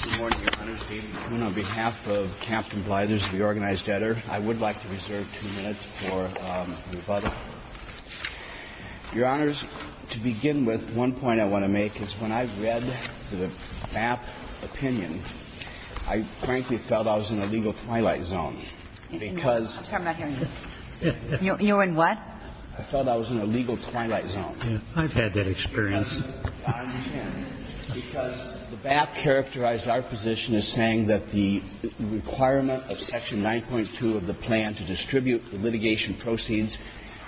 on behalf of Captain Blyther's reorganized editor, I would like to reserve two minutes for rebuttal. Your honors, to begin with, one point I want to make is when I read the BAP opinion, I frankly felt I was in a legal twilight zone. I'm sorry, I'm not hearing you. You were in what? I felt I was in a legal twilight zone. I've had that experience. I understand. Because the BAP characterized our position as saying that the requirement of Section 9.2 of the plan to distribute the litigation proceeds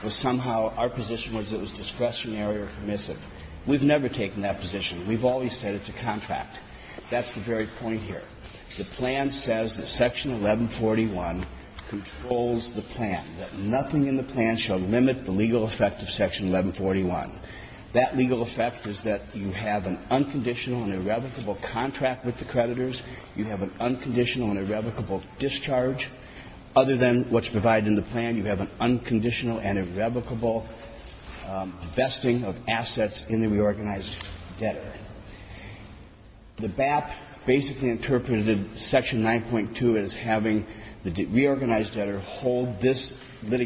was somehow our position was it was discretionary or permissive. We've never taken that position. We've always said it's a contract. That's the very point here. The plan says that Section 1141 controls the plan, that nothing in the plan shall limit the legal effect of Section 1141. That legal effect is that you have an unconditional and irrevocable contract with the creditors. You have an unconditional and irrevocable discharge. Other than what's provided in the plan, you have an unconditional and irrevocable vesting of assets in the reorganized debtor. The BAP basically interpreted Section 9.2 as having the reorganized debtor hold this That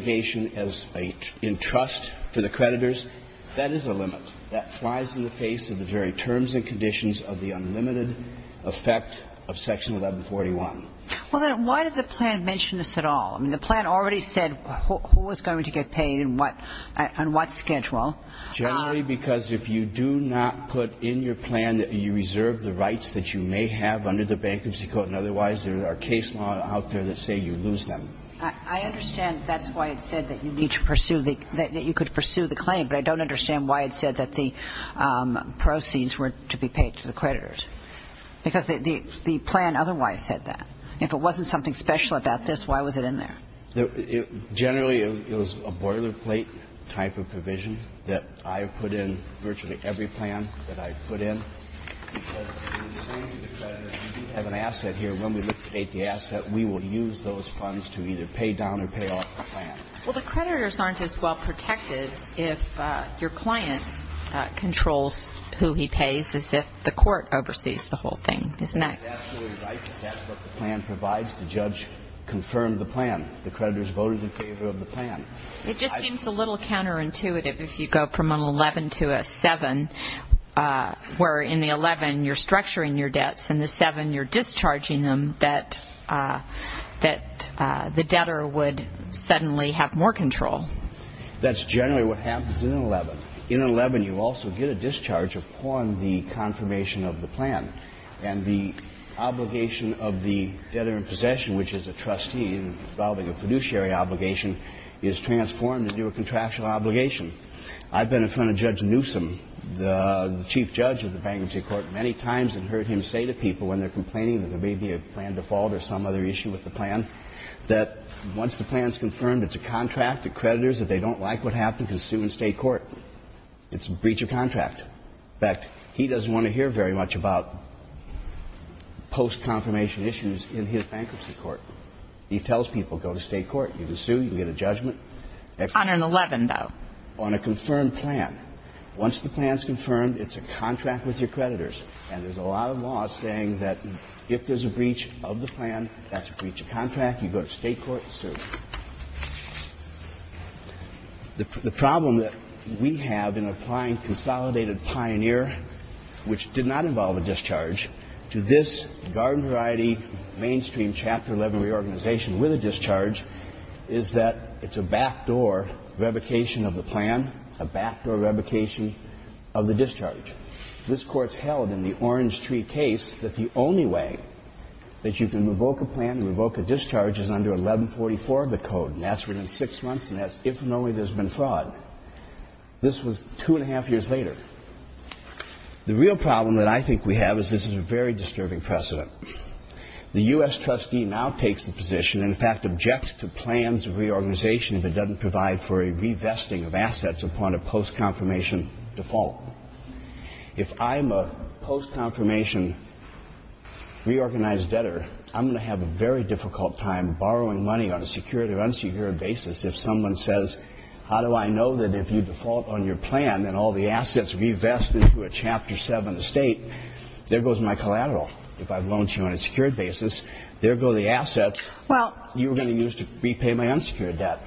is a limit. That flies in the face of the very terms and conditions of the unlimited effect of Section 1141. Well, then, why did the plan mention this at all? I mean, the plan already said who was going to get paid and what schedule. Generally, because if you do not put in your plan that you reserve the rights that you may have under the Bankruptcy Code and otherwise, there are case law out there that say you lose them. I understand that's why it said that you need to pursue the – that you could pursue the claim, but I don't understand why it said that the proceeds were to be paid to the creditors. Because the plan otherwise said that. If it wasn't something special about this, why was it in there? Generally, it was a boilerplate type of provision that I have put in virtually every plan that I've put in. Because the creditors have an asset here. When we liquidate the asset, we will use those funds to either pay down or pay off the plan. Well, the creditors aren't as well protected if your client controls who he pays as if the court oversees the whole thing, isn't that? That's absolutely right. That's what the plan provides. The judge confirmed the plan. The creditors voted in favor of the plan. It just seems a little counterintuitive if you go from an 11 to a 7, where in the 11, you're structuring your debts and the 7, you're discharging them, that the debtor would suddenly have more control. That's generally what happens in an 11. In an 11, you also get a discharge upon the confirmation of the plan. And the obligation of the debtor in possession, which is a trustee involving a fiduciary obligation, is transformed into a contractual obligation. I've been in front of Judge Newsom, the chief judge of the bankruptcy court, many times and heard him say to people when they're complaining that there may be a default or some other issue with the plan, that once the plan's confirmed, it's a contract. The creditors, if they don't like what happened, can sue in State court. It's a breach of contract. In fact, he doesn't want to hear very much about post-confirmation issues in his bankruptcy court. He tells people, go to State court. You can sue. You can get a judgment. On an 11, though. On a confirmed plan. Once the plan's confirmed, it's a contract with your creditors. And there's a lot of law saying that if there's a breach of the plan, that's a breach of contract, you go to State court, sue. The problem that we have in applying consolidated pioneer, which did not involve a discharge, to this garden variety mainstream Chapter 11 reorganization with a discharge is that it's a backdoor revocation of the plan, a backdoor revocation of the discharge. This court's held in the Orange Tree case that the only way that you can revoke a plan and revoke a discharge is under 1144 of the code. And that's within six months, and that's if and only there's been fraud. This was two and a half years later. The real problem that I think we have is this is a very disturbing precedent. The U.S. trustee now takes the position, in fact, objects to plans of reorganization if it doesn't provide for a revesting of assets upon a post-confirmation default. If I'm a post-confirmation reorganized debtor, I'm going to have a very difficult time borrowing money on a secured or unsecured basis if someone says, how do I know that if you default on your plan and all the assets revest into a Chapter 7 estate, there goes my collateral. If I've loaned you on a secured basis, there go the assets you were going to use to repay my unsecured debt.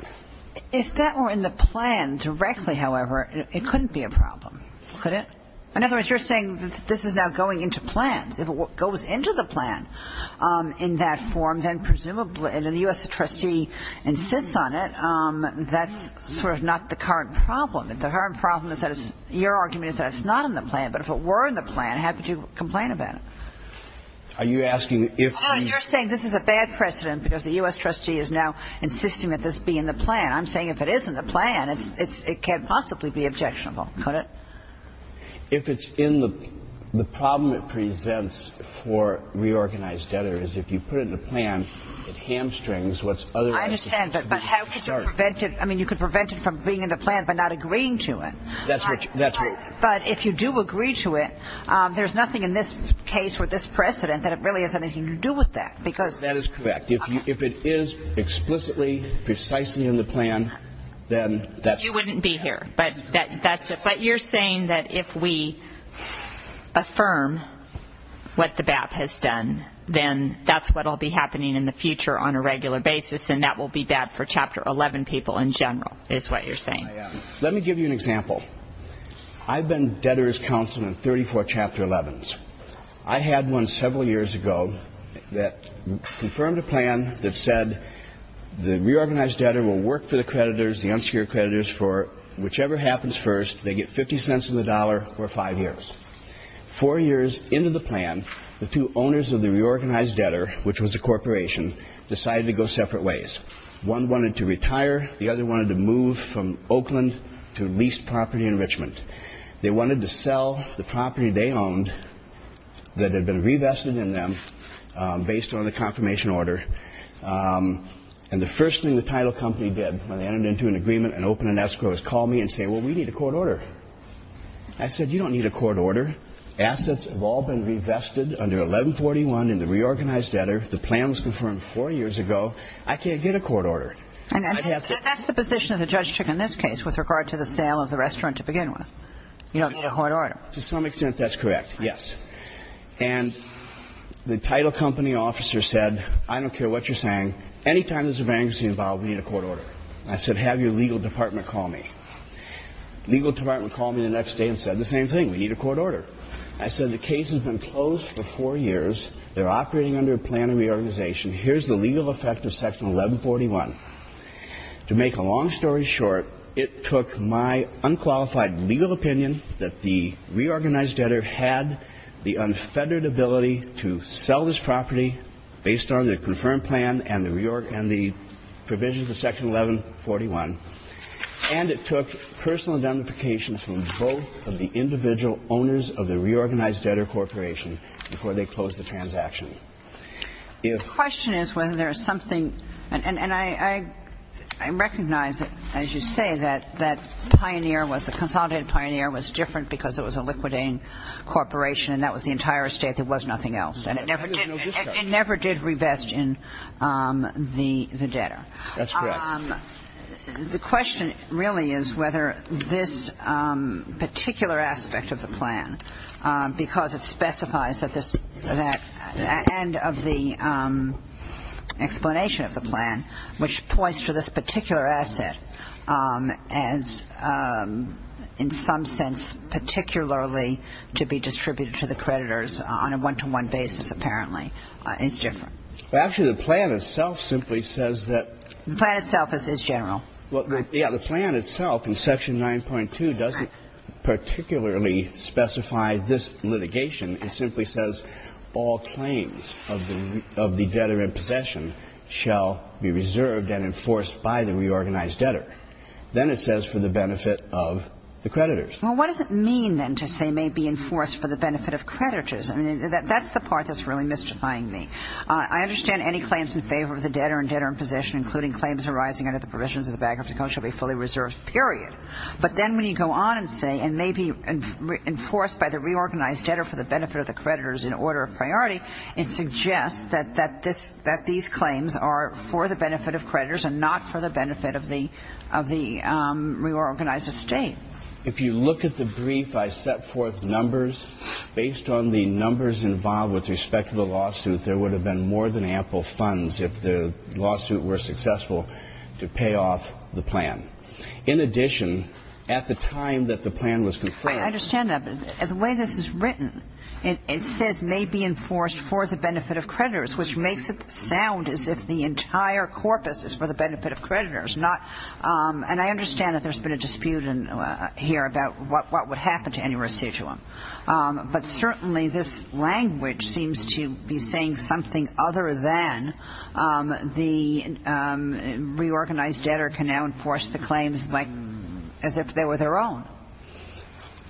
If that were in the plan directly, however, it couldn't be a problem, could it? In other words, you're saying that this is now going into plans. If it goes into the plan in that form, then presumably, and the U.S. trustee insists on it, that's sort of not the current problem. If the current problem is that it's your argument is that it's not in the plan, but if it were in the plan, how could you complain about it? Are you asking if the – No, you're saying this is a bad precedent because the U.S. trustee is now insisting that this be in the plan. I'm saying if it is in the plan, it can't possibly be objectionable, could it? If it's in the – the problem it presents for reorganized debtors, if you put it in the plan, it hamstrings what's otherwise – I understand, but how could you prevent it? I mean, you could prevent it from being in the plan by not agreeing to it. That's what – But if you do agree to it, there's nothing in this case or this precedent that it really has anything to do with that because – If it's precisely in the plan, then that's – You wouldn't be here, but that's – but you're saying that if we affirm what the BAP has done, then that's what will be happening in the future on a regular basis and that will be bad for Chapter 11 people in general is what you're saying. Let me give you an example. I've been debtors' counsel in 34 Chapter 11s. I had one several years ago that confirmed a plan that said the reorganized debtor will work for the creditors, the unsecured creditors, for whichever happens first, they get 50 cents on the dollar for five years. Four years into the plan, the two owners of the reorganized debtor, which was a corporation, decided to go separate ways. One wanted to retire. The other wanted to move from Oakland to lease property in Richmond. They wanted to sell the property they owned that had been revested in them based on the confirmation order. And the first thing the title company did when they entered into an agreement and opened an escrow is call me and say, well, we need a court order. I said, you don't need a court order. Assets have all been revested under 1141 in the reorganized debtor. The plan was confirmed four years ago. I can't get a court order. That's the position that the judge took in this case with regard to the sale of the restaurant to begin with. You don't need a court order. To some extent, that's correct, yes. And the title company officer said, I don't care what you're saying. Anytime there's a vacancy involved, we need a court order. I said, have your legal department call me. The legal department called me the next day and said the same thing. We need a court order. I said, the case has been closed for four years. They're operating under a plan of reorganization. Here's the legal effect of Section 1141. To make a long story short, it took my unqualified legal opinion that the reorganized debtor had the unfettered ability to sell this property based on the confirmed plan and the provisions of Section 1141, and it took personal identifications from both of the individual owners of the reorganized debtor corporation before they closed the transaction. The question is whether there is something – and I recognize, as you say, that the consolidated pioneer was different because it was a liquidating corporation and that was the entire estate. There was nothing else. And it never did revest in the debtor. That's correct. The question really is whether this particular aspect of the plan, because it specifies at the end of the explanation of the plan, which points to this particular asset as, in some sense, particularly to be distributed to the creditors on a one-to-one basis, apparently, is different. Actually, the plan itself simply says that – The plan itself is general. Yeah, the plan itself in Section 9.2 doesn't particularly specify this litigation. It simply says all claims of the debtor in possession shall be reserved and enforced by the reorganized debtor. Then it says for the benefit of the creditors. Well, what does it mean, then, to say may be enforced for the benefit of creditors? I mean, that's the part that's really mystifying me. I understand any claims in favor of the debtor and debtor in possession, including claims arising under the provisions of the bankruptcy code, shall be fully reserved, period. But then when you go on and say, for the benefit of the creditors in order of priority, it suggests that these claims are for the benefit of creditors and not for the benefit of the reorganized estate. If you look at the brief, I set forth numbers. Based on the numbers involved with respect to the lawsuit, there would have been more than ample funds if the lawsuit were successful to pay off the plan. In addition, at the time that the plan was confirmed – because the way this is written, it says may be enforced for the benefit of creditors, which makes it sound as if the entire corpus is for the benefit of creditors, and I understand that there's been a dispute here about what would happen to any residuum. But certainly this language seems to be saying something other than the reorganized debtor can now enforce the claims as if they were their own.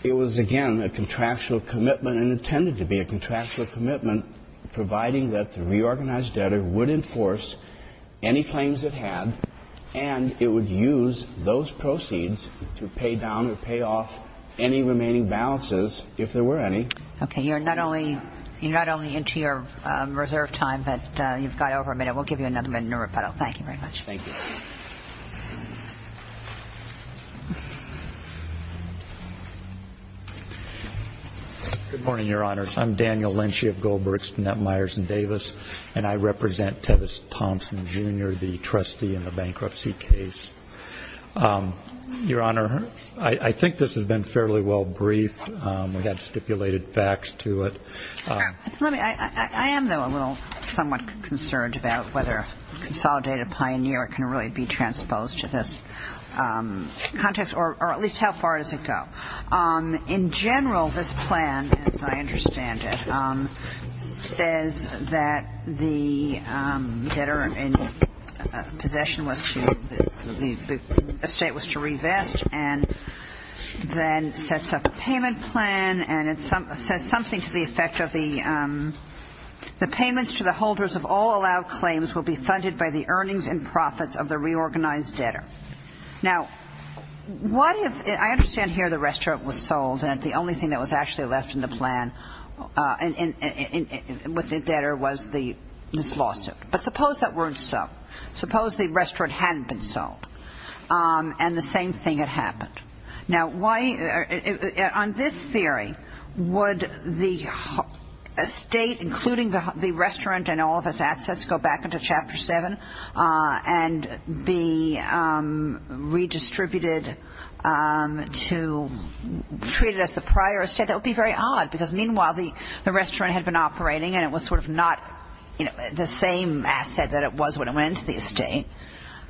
It was, again, a contractual commitment and intended to be a contractual commitment, providing that the reorganized debtor would enforce any claims it had and it would use those proceeds to pay down or pay off any remaining balances if there were any. Okay. You're not only into your reserve time, but you've got over a minute. We'll give you another minute and a rebuttal. Thank you very much. Thank you. Good morning, Your Honors. I'm Daniel Lynch of Goldbergs, Netmeyers & Davis, and I represent Tevis Thompson, Jr., the trustee in the bankruptcy case. Your Honor, I think this has been fairly well briefed. We've got stipulated facts to it. I am, though, a little somewhat concerned about whether a consolidated pioneer can really be transposed to this context, or at least how far does it go. In general, this plan, as I understand it, says that the debtor in possession was to, the estate was to revest and then sets up a payment plan and it says something to the effect of the payments to the holders of all allowed claims will be funded by the earnings and profits of the reorganized debtor. Now, what if, I understand here the restaurant was sold and the only thing that was actually left in the plan with the debtor was this lawsuit. But suppose that weren't so. Suppose the restaurant hadn't been sold and the same thing had happened. Now, on this theory, would the estate, including the restaurant and all of its assets, go back into Chapter 7 and be redistributed to treat it as the prior estate? That would be very odd because, meanwhile, the restaurant had been operating and it was sort of not the same asset that it was when it went into the estate.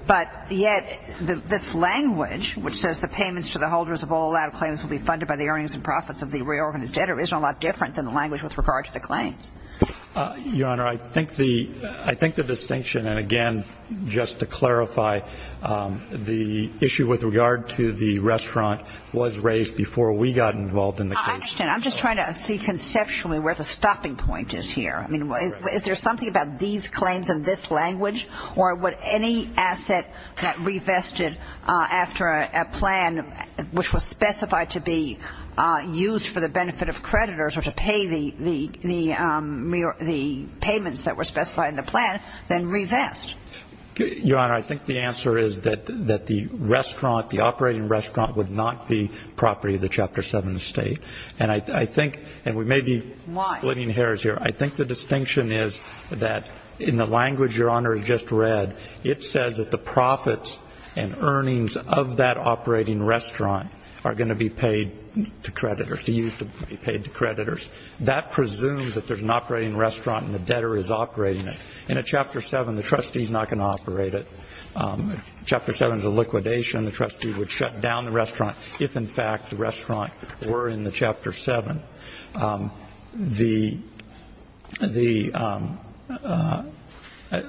But yet this language, which says the payments to the holders of all allowed claims will be funded by the earnings and profits of the reorganized debtor, isn't a lot different than the language with regard to the claims. Your Honor, I think the distinction, and again, just to clarify, the issue with regard to the restaurant was raised before we got involved in the case. I understand. I'm just trying to see conceptually where the stopping point is here. I mean, is there something about these claims in this language or would any asset that revested after a plan, which was specified to be used for the benefit of creditors or to pay the payments that were specified in the plan, then revest? Your Honor, I think the answer is that the restaurant, the operating restaurant, would not be property of the Chapter 7 estate. And I think, and we may be splitting hairs here, I think the distinction is that in the language Your Honor just read, it says that the profits and earnings of that operating restaurant are going to be paid to creditors, to use to be paid to creditors. That presumes that there's an operating restaurant and the debtor is operating it. In a Chapter 7, the trustee is not going to operate it. Chapter 7 is a liquidation. The trustee would shut down the restaurant if, in fact, the restaurant were in the Chapter 7. The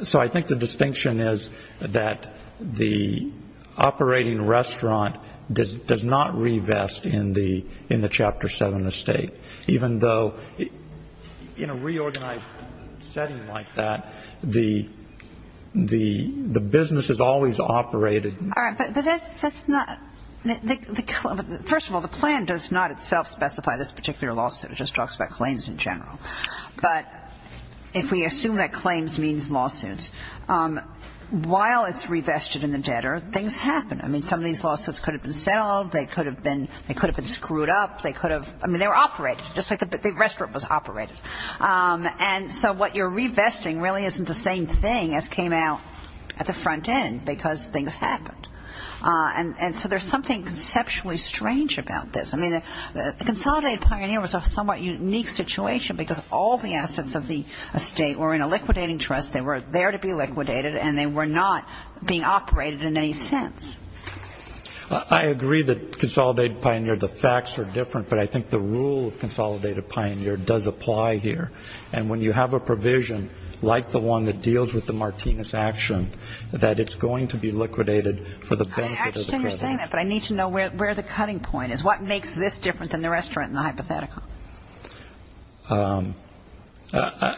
so I think the distinction is that the operating restaurant does not revest in the Chapter 7 estate, even though in a reorganized setting like that, the business is always operated. All right, but that's not, first of all, the plan does not itself specify this particular lawsuit. It just talks about claims in general. But if we assume that claims means lawsuits, while it's revested in the debtor, things happen. I mean, some of these lawsuits could have been settled. They could have been screwed up. They could have, I mean, they were operated, just like the restaurant was operated. And so what you're revesting really isn't the same thing as came out at the front end, because things happened. And so there's something conceptually strange about this. I mean, the Consolidated Pioneer was a somewhat unique situation, because all the assets of the estate were in a liquidating trust. They were there to be liquidated, and they were not being operated in any sense. I agree that Consolidated Pioneer, the facts are different, but I think the rule of Consolidated Pioneer does apply here. And when you have a provision like the one that deals with the Martinez action, that it's going to be liquidated for the benefit of the creditors. I understand you're saying that, but I need to know where the cutting point is. What makes this different than the restaurant and the hypothetical?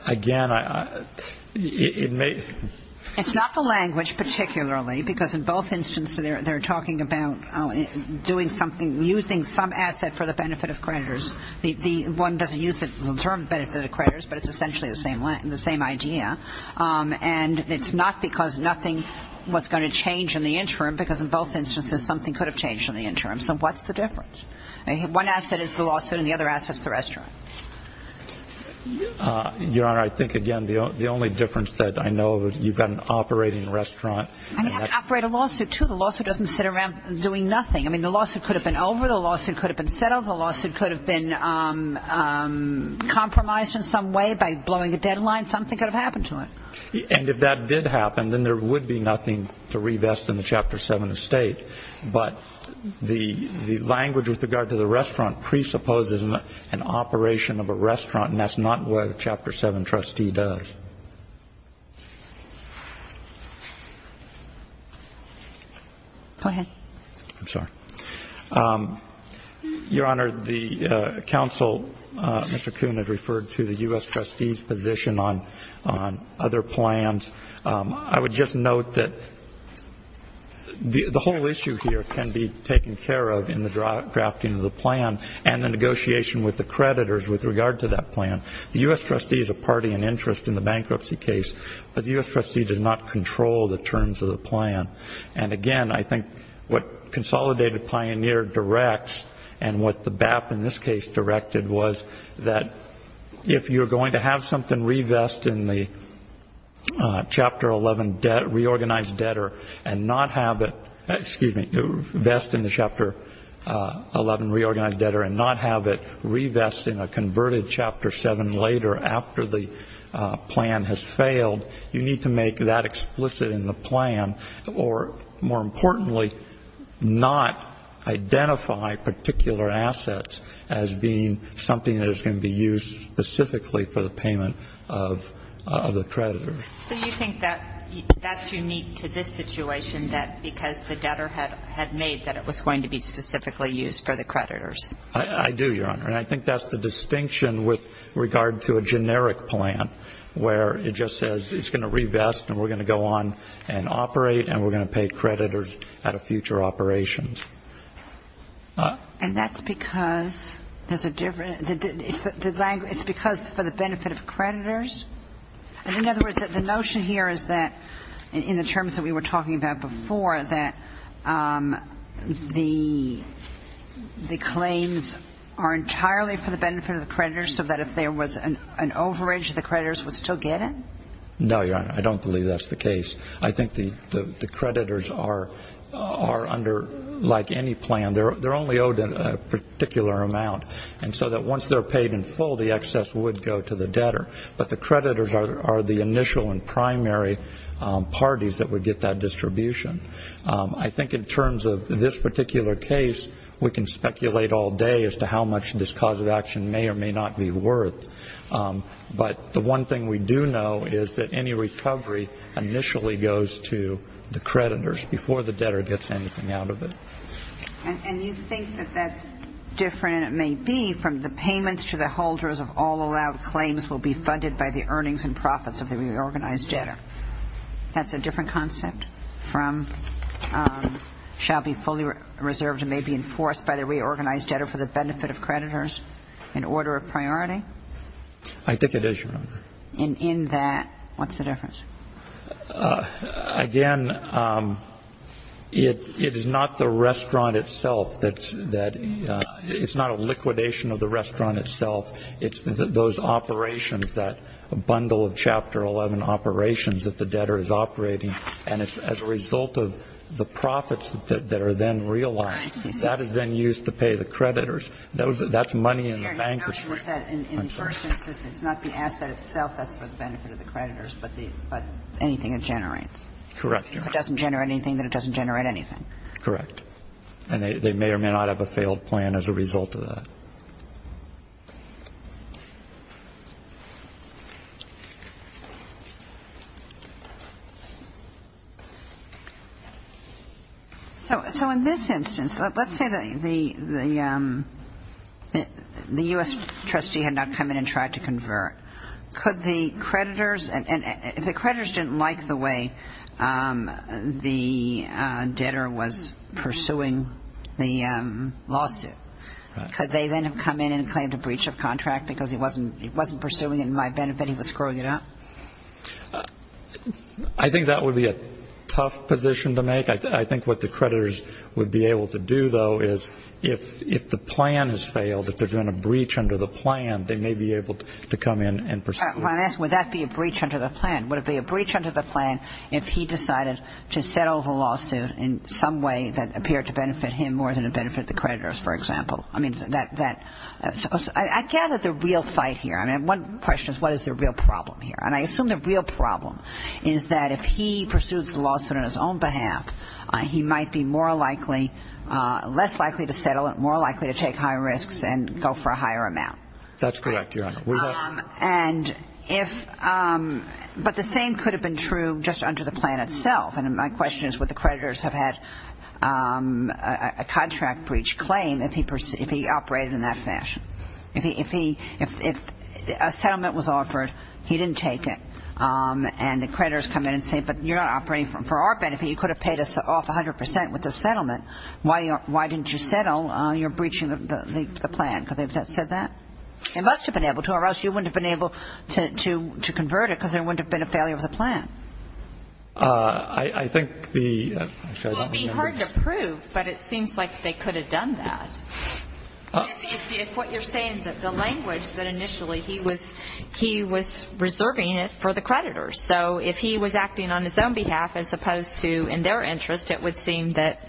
Again, it may be. It's not the language particularly, because in both instances, they're talking about doing something, using some asset for the benefit of creditors. One doesn't use the term benefit of creditors, but it's essentially the same idea. And it's not because nothing was going to change in the interim, because in both instances something could have changed in the interim. So what's the difference? One asset is the lawsuit, and the other asset is the restaurant. Your Honor, I think, again, the only difference that I know of is you've got an operating restaurant. And you have to operate a lawsuit, too. The lawsuit doesn't sit around doing nothing. I mean, the lawsuit could have been over. The lawsuit could have been settled. The lawsuit could have been compromised in some way by blowing a deadline. Something could have happened to it. And if that did happen, then there would be nothing to revest in the Chapter 7 of State. But the language with regard to the restaurant presupposes an operation of a restaurant, and that's not what a Chapter 7 trustee does. Go ahead. I'm sorry. Your Honor, the counsel, Mr. Kuhn, had referred to the U.S. trustees' position on other plans. I would just note that the whole issue here can be taken care of in the drafting of the plan and the negotiation with the creditors with regard to that plan. The U.S. trustees are party and interest in the bankruptcy case, but the U.S. trustee does not control the terms of the plan. And, again, I think what Consolidated Pioneer directs and what the BAP, in this case, directed, was that if you're going to have something revest in the Chapter 11 reorganized debtor and not have it revest in a converted Chapter 7 later after the plan has failed, you need to make that explicit in the plan or, more importantly, not identify particular assets as being something that is going to be used specifically for the payment of the creditor. So you think that that's unique to this situation, that because the debtor had made that it was going to be specifically used for the creditors? I do, Your Honor. And I think that's the distinction with regard to a generic plan, where it just says it's going to revest and we're going to go on and operate and we're going to pay creditors out of future operations. And that's because there's a different – it's because for the benefit of creditors? In other words, the notion here is that, in the terms that we were talking about before, that the claims are entirely for the benefit of the creditors so that if there was an overage, the creditors would still get it? No, Your Honor. I don't believe that's the case. I think the creditors are under – like any plan, they're only owed a particular amount. And so that once they're paid in full, the excess would go to the debtor. But the creditors are the initial and primary parties that would get that distribution. I think in terms of this particular case, we can speculate all day as to how much this cause of action may or may not be worth. But the one thing we do know is that any recovery initially goes to the creditors before the debtor gets anything out of it. And you think that that's different, and it may be, that from the payments to the holders of all allowed claims will be funded by the earnings and profits of the reorganized debtor? That's a different concept from shall be fully reserved and may be enforced by the reorganized debtor for the benefit of creditors in order of priority? I think it is, Your Honor. And in that, what's the difference? Again, it is not the restaurant itself that's – it's not a liquidation of the restaurant itself. It's those operations, that bundle of Chapter 11 operations that the debtor is operating. And as a result of the profits that are then realized, that is then used to pay the creditors. That's money in the bank. The question was that in the first instance, it's not the asset itself that's for the benefit of the creditors, but anything it generates. Correct, Your Honor. If it doesn't generate anything, then it doesn't generate anything. Correct. And they may or may not have a failed plan as a result of that. So in this instance, let's say that the U.S. trustee had not come in and tried to convert. Could the creditors – and if the creditors didn't like the way the debtor was pursuing the lawsuit, could they then have come in and claimed a breach of contract? Because he wasn't pursuing it in my benefit, he was screwing it up? I think that would be a tough position to make. I think what the creditors would be able to do, though, is if the plan has failed, if they're doing a breach under the plan, they may be able to come in and pursue it. I'm asking, would that be a breach under the plan? Would it be a breach under the plan if he decided to settle the lawsuit in some way that appeared to benefit him more than it benefited the creditors, for example? I mean, I gather the real fight here. I mean, one question is, what is the real problem here? And I assume the real problem is that if he pursues the lawsuit on his own behalf, he might be more likely, less likely to settle it, more likely to take higher risks and go for a higher amount. That's correct, Your Honor. And if – but the same could have been true just under the plan itself. And my question is, would the creditors have had a contract breach claim if he operated in that fashion? If a settlement was offered, he didn't take it, and the creditors come in and say, but you're not operating for our benefit. You could have paid us off 100% with the settlement. Why didn't you settle? You're breaching the plan. Could they have said that? They must have been able to, or else you wouldn't have been able to convert it because there wouldn't have been a failure of the plan. I think the – It would be hard to prove, but it seems like they could have done that. If what you're saying, the language that initially he was – he was reserving it for the creditors. So if he was acting on his own behalf as opposed to in their interest, it would seem that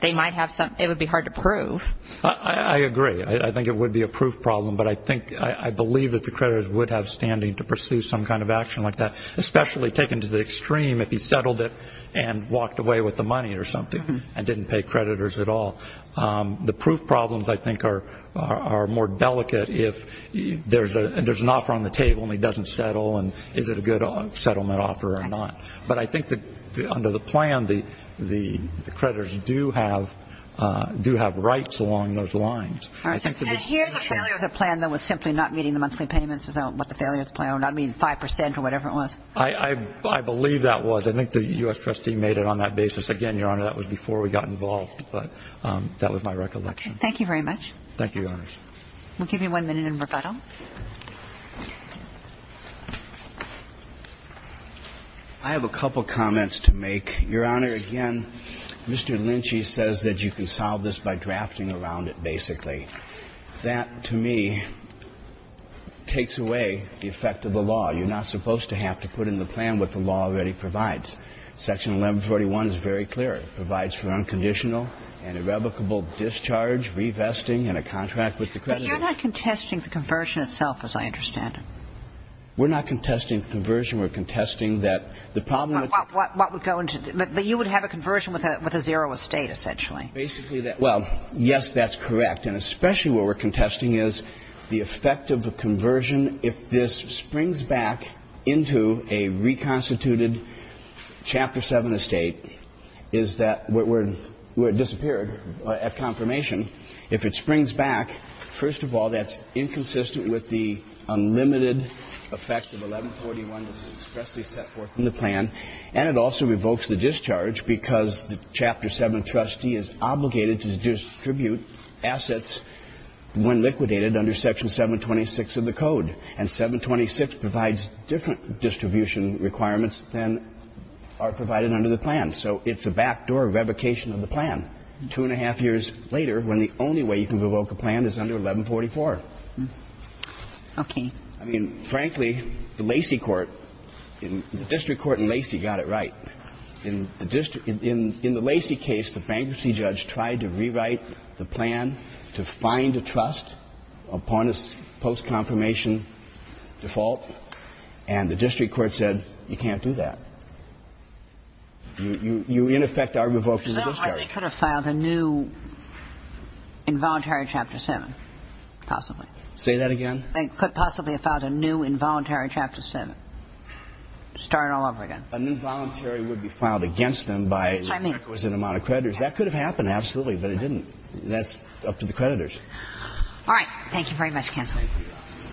they might have some – it would be hard to prove. I agree. I think it would be a proof problem, but I think – I believe that the creditors would have standing to pursue some kind of action like that, especially taken to the extreme if he settled it and walked away with the money or something and didn't pay creditors at all. The proof problems, I think, are more delicate if there's an offer on the table and he doesn't settle, and is it a good settlement offer or not. But I think that under the plan, the creditors do have rights along those lines. And here the failure of the plan that was simply not meeting the monthly payments is what the failure of the plan – I mean 5 percent or whatever it was. I believe that was. I think the U.S. trustee made it on that basis. Again, Your Honor, that was before we got involved, but that was my recollection. Thank you very much. Thank you, Your Honors. We'll give you one minute in rebuttal. I have a couple comments to make. Your Honor, again, Mr. Lynch says that you can solve this by drafting around it, basically. That, to me, takes away the effect of the law. You're not supposed to have to put in the plan what the law already provides. Section 1141 is very clear. It provides for unconditional and irrevocable discharge, revesting, and a contract with the creditor. But you're not contesting the conversion itself, as I understand it. We're not contesting the conversion. We're contesting that the problem with the – But you would have a conversion with a zero estate, essentially. Basically, that – well, yes, that's correct. And especially what we're contesting is the effect of a conversion if this springs back into a reconstituted Chapter 7 estate, is that – where it disappeared at confirmation. If it springs back, first of all, that's inconsistent with the unlimited effect of 1141 that's expressly set forth in the plan. And it also revokes the discharge because the Chapter 7 trustee is obligated to distribute assets when liquidated under Section 726 of the Code. And 726 provides different distribution requirements than are provided under the plan. So it's a backdoor revocation of the plan. Two and a half years later, when the only way you can revoke a plan is under 1144. Okay. I mean, frankly, the Lacey court – the district court in Lacey got it right. In the district – in the Lacey case, the bankruptcy judge tried to rewrite the plan to find a trust upon a post-confirmation default. And the district court said, you can't do that. You, in effect, are revoking the discharge. They could have filed a new involuntary Chapter 7, possibly. Say that again? They could possibly have filed a new involuntary Chapter 7. Start it all over again. A new voluntary would be filed against them by – That's what I mean. It was an amount of creditors. That could have happened, absolutely. But it didn't. That's up to the creditors. All right. Thank you very much, Counselor.